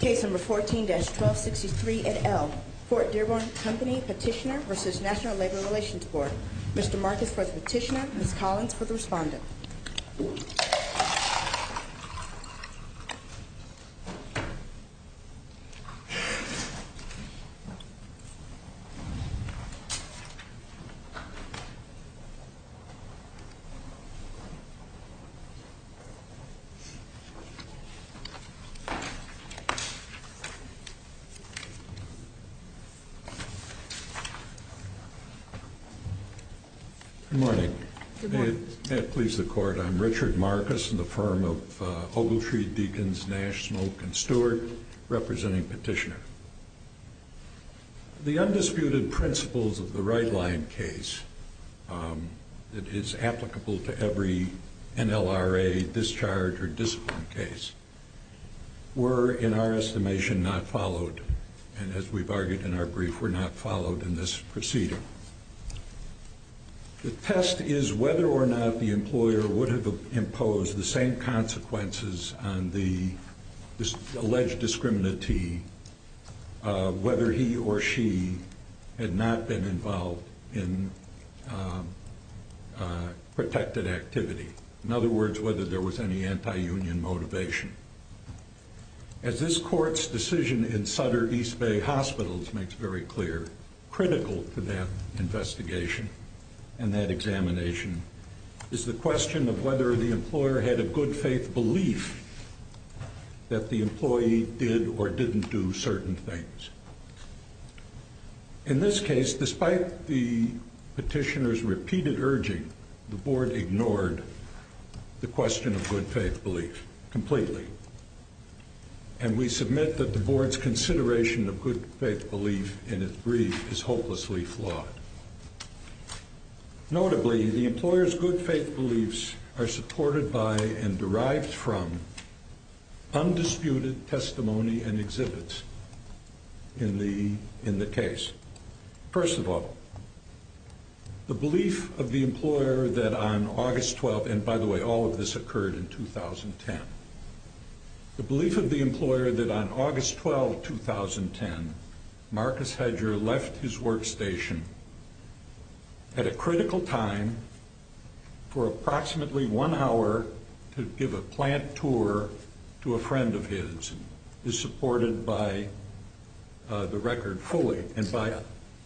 Case No. 14-1263 et al. Fort Dearborn Company Petitioner v. National Labor Relations Board Mr. Marcus for the Petitioner, Ms. Collins for the Respondent Good morning. May it please the Court, I'm Richard Marcus in the firm of Ogletree, Deakins, Nash, Smoke, and Stewart, representing Petitioner. The undisputed principles of the right-line case that is applicable to every NLRA discharge or discipline case were, in our estimation, not followed. And as we've argued in our brief, were not followed in this proceeding. The test is whether or not the employer would have imposed the same consequences on the alleged discriminatee, whether he or she had not been involved in protected activity. In other words, whether there was any anti-union motivation. As this Court's decision in Sutter East Bay Hospitals makes very clear, critical to that investigation and that examination is the question of whether the employer had a good faith belief that the employee did or didn't do certain things. In this case, despite the Petitioner's repeated urging, the Board ignored the question of good faith belief completely. And we submit that the Board's consideration of good faith belief in its brief is hopelessly flawed. Notably, the employer's good faith beliefs are supported by and derived from undisputed testimony and exhibits in the case. First of all, the belief of the employer that on August 12th, and by the way, all of this occurred in 2010. The belief of the employer that on August 12th, 2010, Marcus Hedger left his workstation at a critical time for approximately one hour to give a plant tour to a friend of his is supported by the record fully and by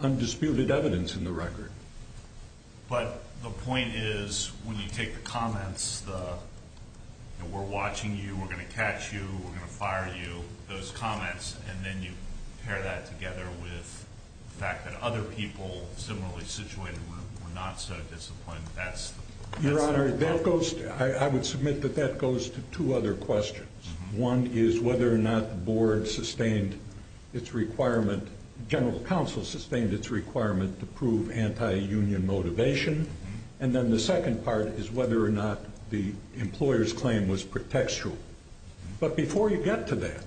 undisputed evidence in the record. But the point is, when you take the comments, the we're watching you, we're going to catch you, we're going to fire you, those comments, and then you pair that together with the fact that other people similarly situated were not so disappointed. Your Honor, I would submit that that goes to two other questions. One is whether or not the Board sustained its requirement, General Counsel sustained its requirement to prove anti-union motivation. And then the second part is whether or not the employer's claim was pretextual. But before you get to that,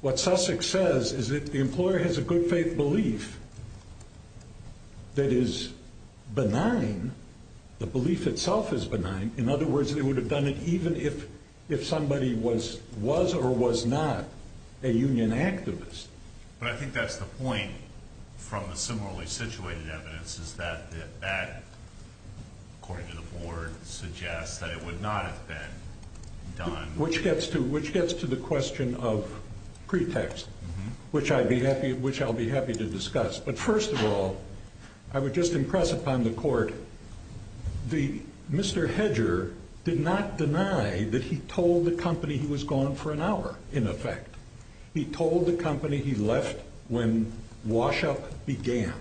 what Sussex says is that the employer has a good faith belief that is benign, the belief itself is benign. In other words, they would have done it even if somebody was or was not a union activist. But I think that's the point from the similarly situated evidence, is that that, according to the Board, suggests that it would not have been done. Which gets to the question of pretext, which I'll be happy to discuss. But first of all, I would just impress upon the Court, Mr. Hedger did not deny that he told the company he was gone for an hour, in effect. He told the company he left when wash-up began.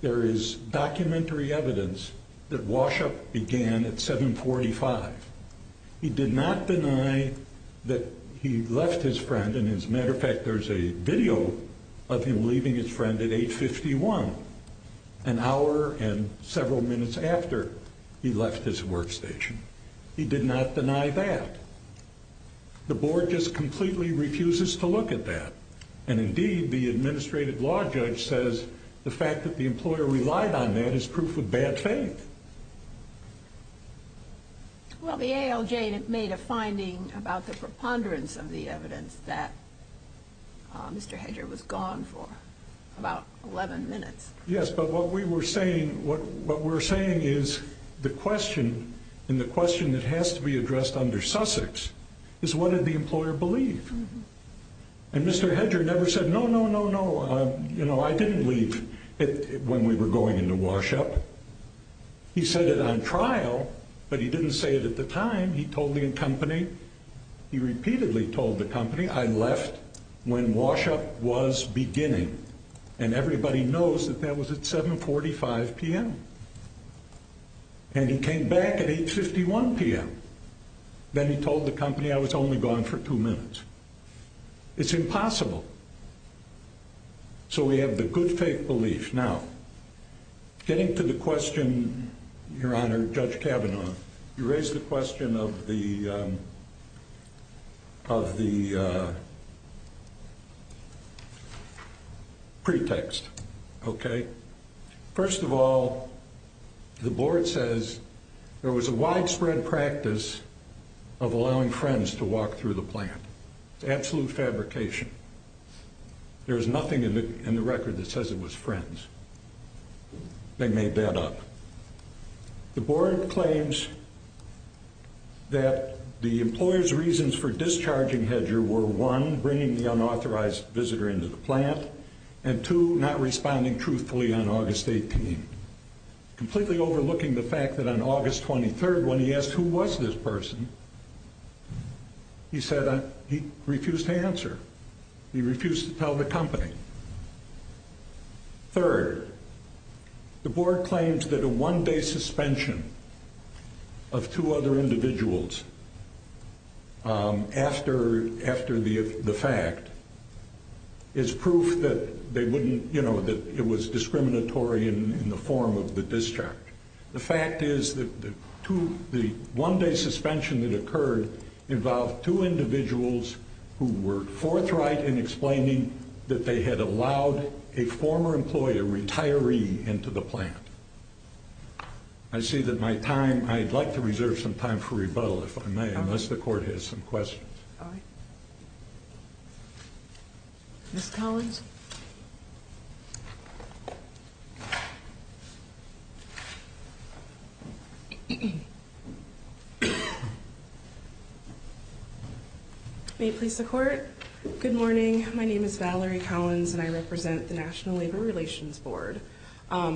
There is documentary evidence that wash-up began at 7.45. He did not deny that he left his friend. As a matter of fact, there's a video of him leaving his friend at 8.51, an hour and several minutes after he left his workstation. He did not deny that. The Board just completely refuses to look at that. And indeed, the Administrative Law Judge says the fact that the employer relied on that is proof of bad faith. Well, the ALJ made a finding about the preponderance of the evidence that Mr. Hedger was gone for about 11 minutes. Yes, but what we're saying is the question, and the question that has to be addressed under Sussex, is what did the employer believe? And Mr. Hedger never said, no, no, no, no, I didn't leave when we were going into wash-up. He said it on trial, but he didn't say it at the time. He told the company, he repeatedly told the company, I left when wash-up was beginning. And everybody knows that that was at 7.45 p.m. And he came back at 8.51 p.m. Then he told the company I was only gone for two minutes. It's impossible. So we have the good faith belief. Now, getting to the question, Your Honor, Judge Kavanaugh, you raised the question of the pretext, okay? First of all, the board says there was a widespread practice of allowing friends to walk through the plant. It's absolute fabrication. There's nothing in the record that says it was friends. They made that up. The board claims that the employer's reasons for discharging Hedger were, one, bringing the unauthorized visitor into the plant, and, two, not responding truthfully on August 18th, completely overlooking the fact that on August 23rd, when he asked who was this person, he said he refused to answer. He refused to tell the company. Third, the board claims that a one-day suspension of two other individuals after the fact is proof that it was discriminatory in the form of the discharge. The fact is that the one-day suspension that occurred involved two individuals who were forthright in explaining that they had allowed a former employee, a retiree, into the plant. I see that my time, I'd like to reserve some time for rebuttal, if I may, unless the court has some questions. All right. Ms. Collins? May it please the court? Good morning. My name is Valerie Collins, and I represent the National Labor Relations Board.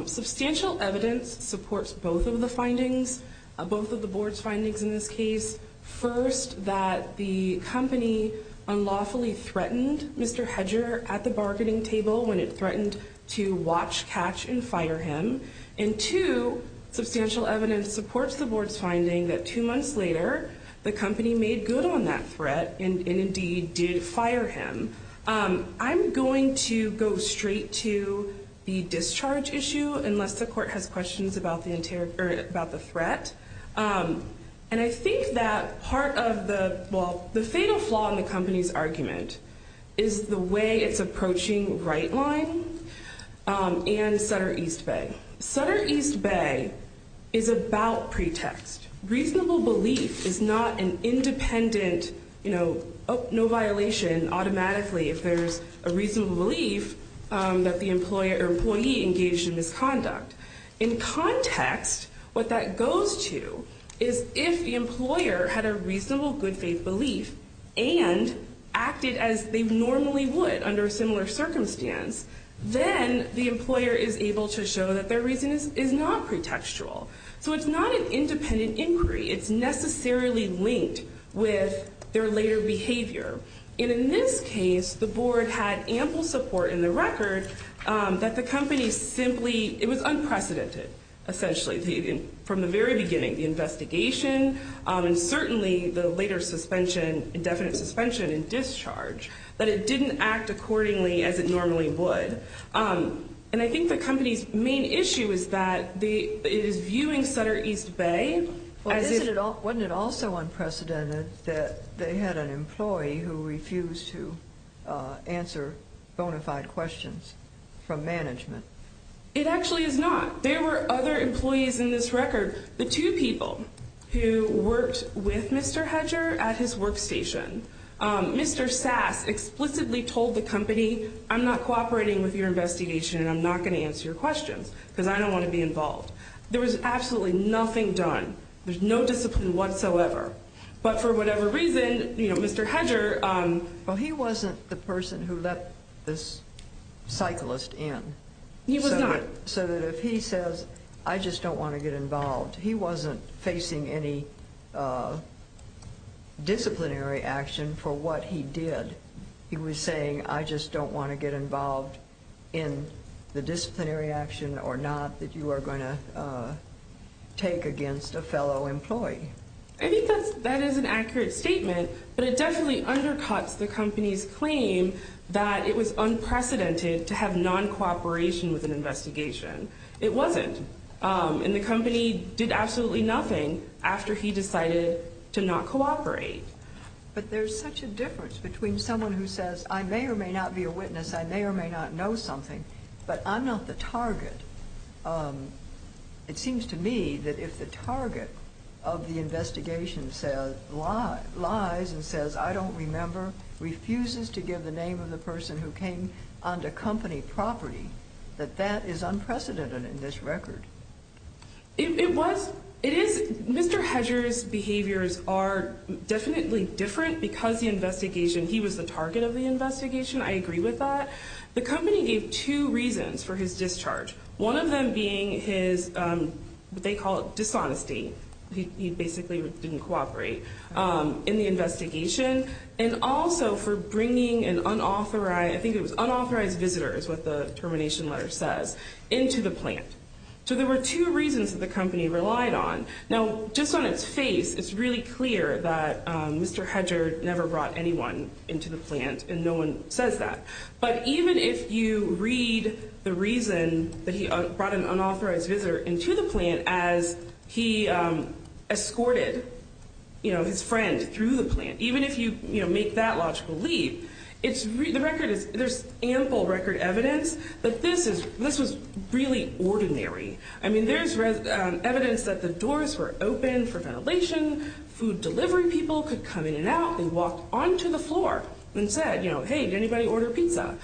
Substantial evidence supports both of the findings, both of the board's findings in this case. First, that the company unlawfully threatened Mr. Hedger at the bargaining table when it threatened to watch, catch, and fire him. And, two, substantial evidence supports the board's finding that two months later, the company made good on that threat and, indeed, did fire him. I'm going to go straight to the discharge issue, unless the court has questions about the threat. And I think that part of the, well, the fatal flaw in the company's argument is the way it's approaching right line and Sutter East Bay. Sutter East Bay is about pretext. Reasonable belief is not an independent, you know, no violation automatically if there's a reasonable belief that the employee engaged in misconduct. In context, what that goes to is if the employer had a reasonable good faith belief and acted as they normally would under a similar circumstance, then the employer is able to show that their reason is not pretextual. So it's not an independent inquiry. It's necessarily linked with their later behavior. And in this case, the board had ample support in the record that the company simply, it was unprecedented, essentially, from the very beginning, the investigation and certainly the later suspension, indefinite suspension and discharge, that it didn't act accordingly as it normally would. And I think the company's main issue is that it is viewing Sutter East Bay as if- It's a company who refused to answer bona fide questions from management. It actually is not. There were other employees in this record, the two people who worked with Mr. Hedger at his workstation. Mr. Sass explicitly told the company, I'm not cooperating with your investigation and I'm not going to answer your questions because I don't want to be involved. There was absolutely nothing done. There's no discipline whatsoever. But for whatever reason, you know, Mr. Hedger- Well, he wasn't the person who let this cyclist in. He was not. So that if he says, I just don't want to get involved, he wasn't facing any disciplinary action for what he did. He was saying, I just don't want to get involved in the disciplinary action or not that you are going to take against a fellow employee. I think that is an accurate statement, but it definitely undercuts the company's claim that it was unprecedented to have non-cooperation with an investigation. It wasn't. And the company did absolutely nothing after he decided to not cooperate. But there's such a difference between someone who says, I may or may not be a witness, I may or may not know something, but I'm not the target. It seems to me that if the target of the investigation lies and says, I don't remember, refuses to give the name of the person who came onto company property, that that is unprecedented in this record. It was. It is. Mr. Hedger's behaviors are definitely different because the investigation, he was the target of the investigation. I agree with that. The company gave two reasons for his discharge. One of them being his, they call it dishonesty. He basically didn't cooperate in the investigation. And also for bringing an unauthorized, I think it was unauthorized visitors, what the termination letter says, into the plant. So there were two reasons that the company relied on. Now, just on its face, it's really clear that Mr. Hedger never brought anyone into the plant and no one says that. But even if you read the reason that he brought an unauthorized visitor into the plant as he escorted, you know, his friend through the plant. Even if you, you know, make that logical leap, it's, the record is, there's ample record evidence that this is, this was really ordinary. I mean, there's evidence that the doors were open for ventilation, food delivery people could come in and out. They walked onto the floor and said, you know, hey, did anybody order pizza?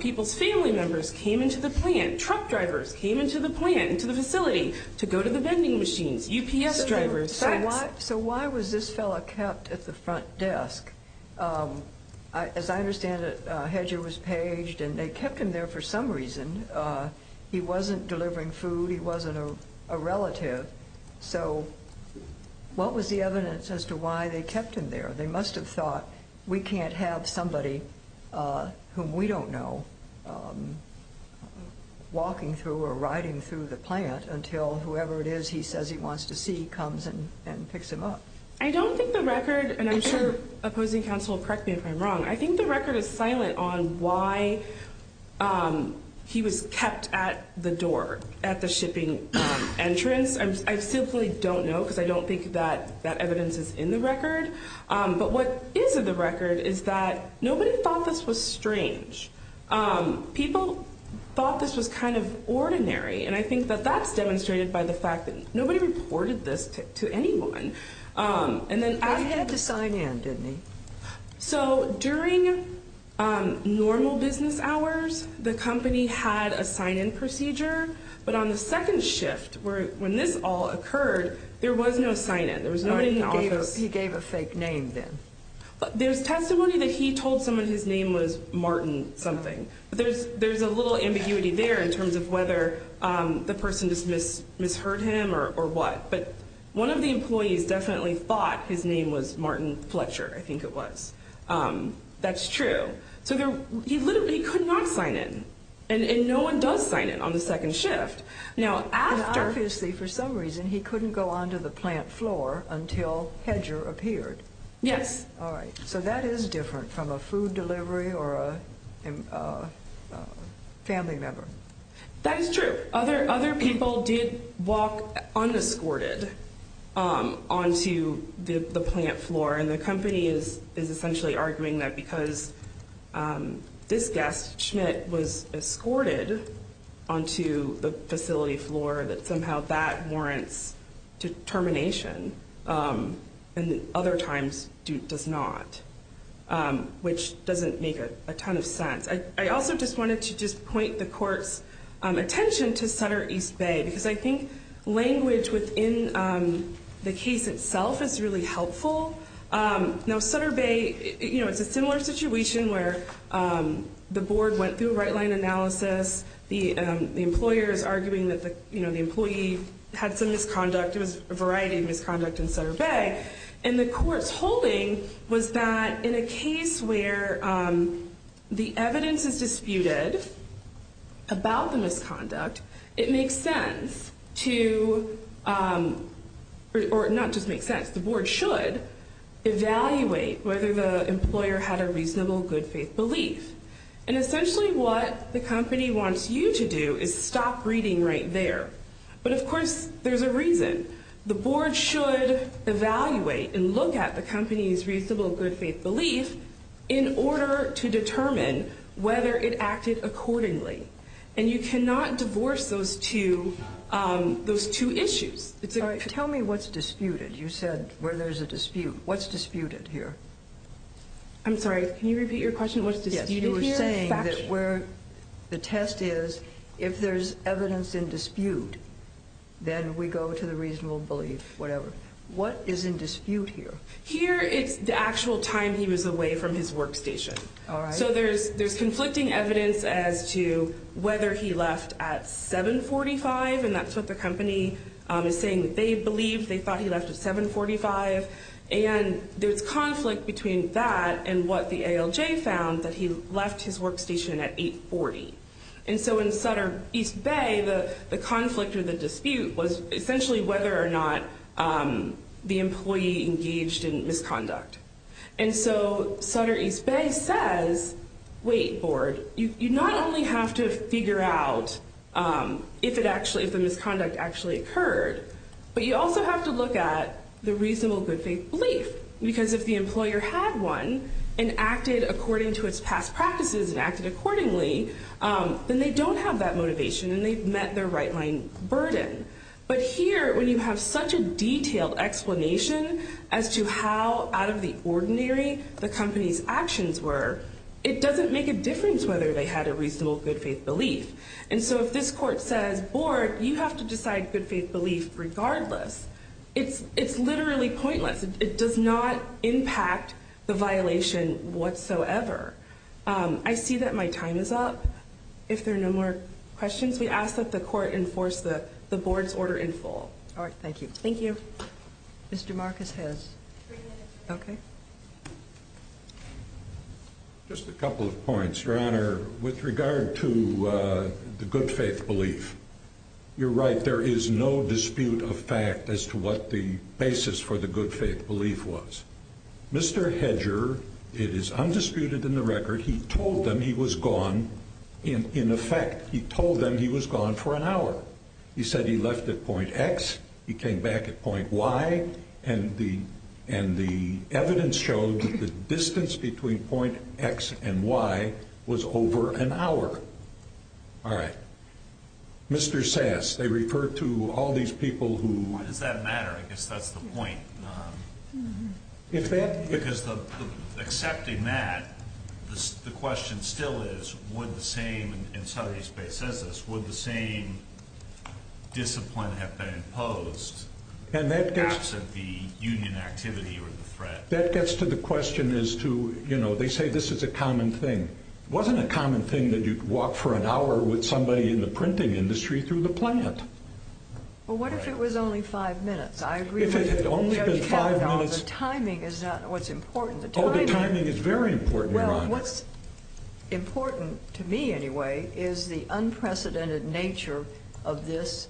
People's family members came into the plant. Truck drivers came into the plant, into the facility to go to the vending machines, UPS drivers. So why was this fellow kept at the front desk? As I understand it, Hedger was paged and they kept him there for some reason. He wasn't delivering food. He wasn't a relative. So what was the evidence as to why they kept him there? They must have thought we can't have somebody whom we don't know walking through or riding through the plant until whoever it is he says he wants to see comes and picks him up. I don't think the record, and I'm sure opposing counsel will correct me if I'm wrong, I think the record is silent on why he was kept at the door, at the shipping entrance. I simply don't know because I don't think that evidence is in the record. But what is in the record is that nobody thought this was strange. People thought this was kind of ordinary. And I think that that's demonstrated by the fact that nobody reported this to anyone. I had to sign in, didn't I? So during normal business hours, the company had a sign-in procedure. But on the second shift, when this all occurred, there was no sign-in. There was nobody in the office. He gave a fake name then. There's testimony that he told someone his name was Martin something. There's a little ambiguity there in terms of whether the person just misheard him or what. But one of the employees definitely thought his name was Martin Fletcher. I think it was. That's true. So he literally could not sign in. And no one does sign in on the second shift. And obviously, for some reason, he couldn't go onto the plant floor until Hedger appeared. Yes. All right. So that is different from a food delivery or a family member. That is true. Other people did walk unescorted onto the plant floor. And the company is essentially arguing that because this guest, Schmidt, was escorted onto the facility floor, that somehow that warrants termination and other times does not, which doesn't make a ton of sense. I also just wanted to just point the court's attention to Sutter East Bay because I think language within the case itself is really helpful. Now, Sutter Bay, you know, it's a similar situation where the board went through a right-line analysis. The employer is arguing that, you know, the employee had some misconduct. It was a variety of misconduct in Sutter Bay. And the court's holding was that in a case where the evidence is disputed about the misconduct, it makes sense to, or not just makes sense, the board should evaluate whether the employer had a reasonable good faith belief. And essentially what the company wants you to do is stop reading right there. But, of course, there's a reason. The board should evaluate and look at the company's reasonable good faith belief in order to determine whether it acted accordingly. And you cannot divorce those two issues. Tell me what's disputed. You said where there's a dispute. What's disputed here? I'm sorry, can you repeat your question? What's disputed here? You're saying that where the test is, if there's evidence in dispute, then we go to the reasonable belief, whatever. What is in dispute here? Here it's the actual time he was away from his workstation. So there's conflicting evidence as to whether he left at 745, and that's what the company is saying that they believe. They thought he left at 745. And there's conflict between that and what the ALJ found, that he left his workstation at 840. And so in Sutter East Bay, the conflict or the dispute was essentially whether or not the employee engaged in misconduct. And so Sutter East Bay says, wait, board, you not only have to figure out if the misconduct actually occurred, but you also have to look at the reasonable good faith belief. Because if the employer had one and acted according to its past practices and acted accordingly, then they don't have that motivation and they've met their right line burden. But here, when you have such a detailed explanation as to how out of the ordinary the company's actions were, it doesn't make a difference whether they had a reasonable good faith belief. And so if this court says, board, you have to decide good faith belief regardless, it's literally pointless. It does not impact the violation whatsoever. I see that my time is up. If there are no more questions, we ask that the court enforce the board's order in full. All right, thank you. Thank you. Mr. Marcus has three minutes. Okay. Just a couple of points, Your Honor. With regard to the good faith belief, you're right, there is no dispute of fact as to what the basis for the good faith belief was. Mr. Hedger, it is undisputed in the record, he told them he was gone in effect. He told them he was gone for an hour. He said he left at point X, he came back at point Y, and the evidence showed that the distance between point X and Y was over an hour. All right. Mr. Sass, they referred to all these people who... Why does that matter? I guess that's the point. If that... Because accepting that, the question still is, would the same, and Saturday Space says this, would the same discipline have been imposed? And that gets... Absent the union activity or the threat. That gets to the question as to, you know, they say this is a common thing. It wasn't a common thing that you'd walk for an hour with somebody in the printing industry through the plant. Well, what if it was only five minutes? If it had only been five minutes... The timing is not what's important. Oh, the timing is very important, Your Honor. Well, what's important to me anyway is the unprecedented nature of this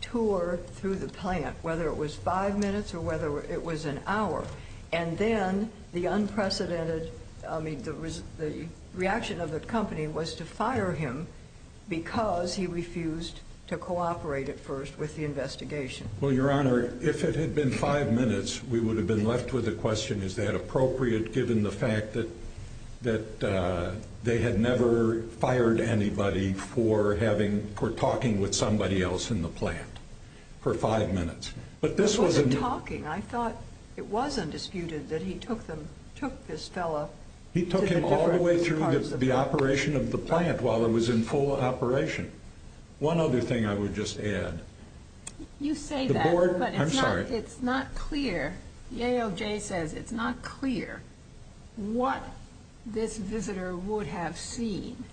tour through the plant, whether it was five minutes or whether it was an hour. And then the unprecedented, I mean, the reaction of the company was to fire him because he refused to cooperate at first with the investigation. Well, Your Honor, if it had been five minutes, we would have been left with the question, is that appropriate, given the fact that they had never fired anybody for talking with somebody else in the plant for five minutes. But this was... It wasn't talking. I thought it was undisputed that he took this fellow... He took him all the way through the operation of the plant while it was in full operation. One other thing I would just add. You say that, but it's not clear. The ALJ says it's not clear what this visitor would have seen.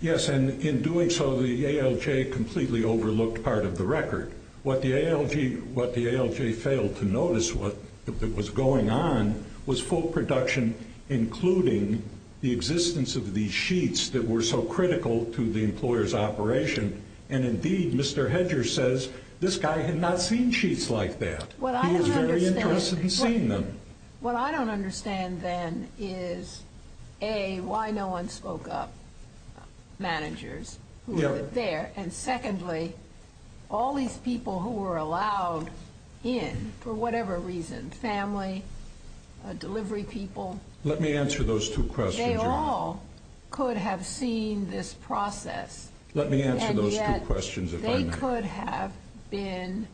Yes, and in doing so, the ALJ completely overlooked part of the record. What the ALJ failed to notice that was going on was full production, including the existence of these sheets that were so critical to the employer's operation. And indeed, Mr. Hedger says this guy had not seen sheets like that. He was very interested in seeing them. What I don't understand then is, A, why no one spoke up, managers who were there, and secondly, all these people who were allowed in for whatever reason, family, delivery people. Let me answer those two questions, Your Honor. They all could have seen this process. Let me answer those two questions, if I may. And yet, they could have been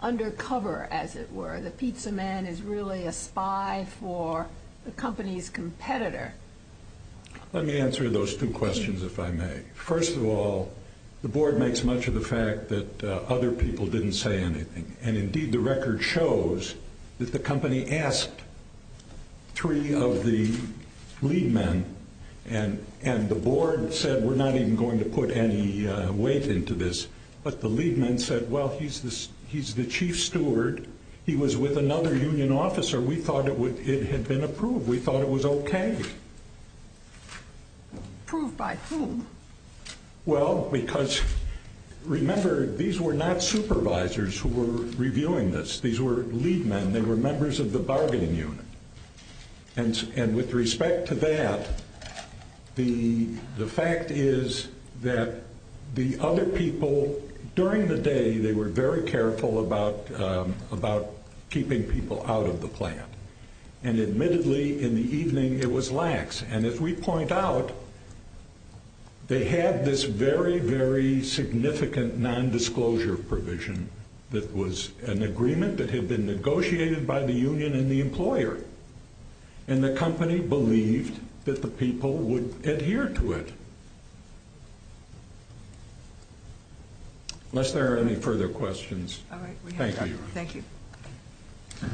undercover, as it were. The pizza man is really a spy for the company's competitor. Let me answer those two questions, if I may. First of all, the Board makes much of the fact that other people didn't say anything. And indeed, the record shows that the company asked three of the lead men, and the Board said, We're not even going to put any weight into this. But the lead men said, Well, he's the chief steward. He was with another union officer. We thought it had been approved. We thought it was okay. Approved by whom? Well, because remember, these were not supervisors who were reviewing this. These were lead men. They were members of the bargaining unit. And with respect to that, the fact is that the other people, during the day, they were very careful about keeping people out of the plant. And admittedly, in the evening, it was lax. And as we point out, they had this very, very significant nondisclosure provision that was an agreement that had been negotiated by the union and the employer. And the company believed that the people would adhere to it. Unless there are any further questions. Thank you. Thank you.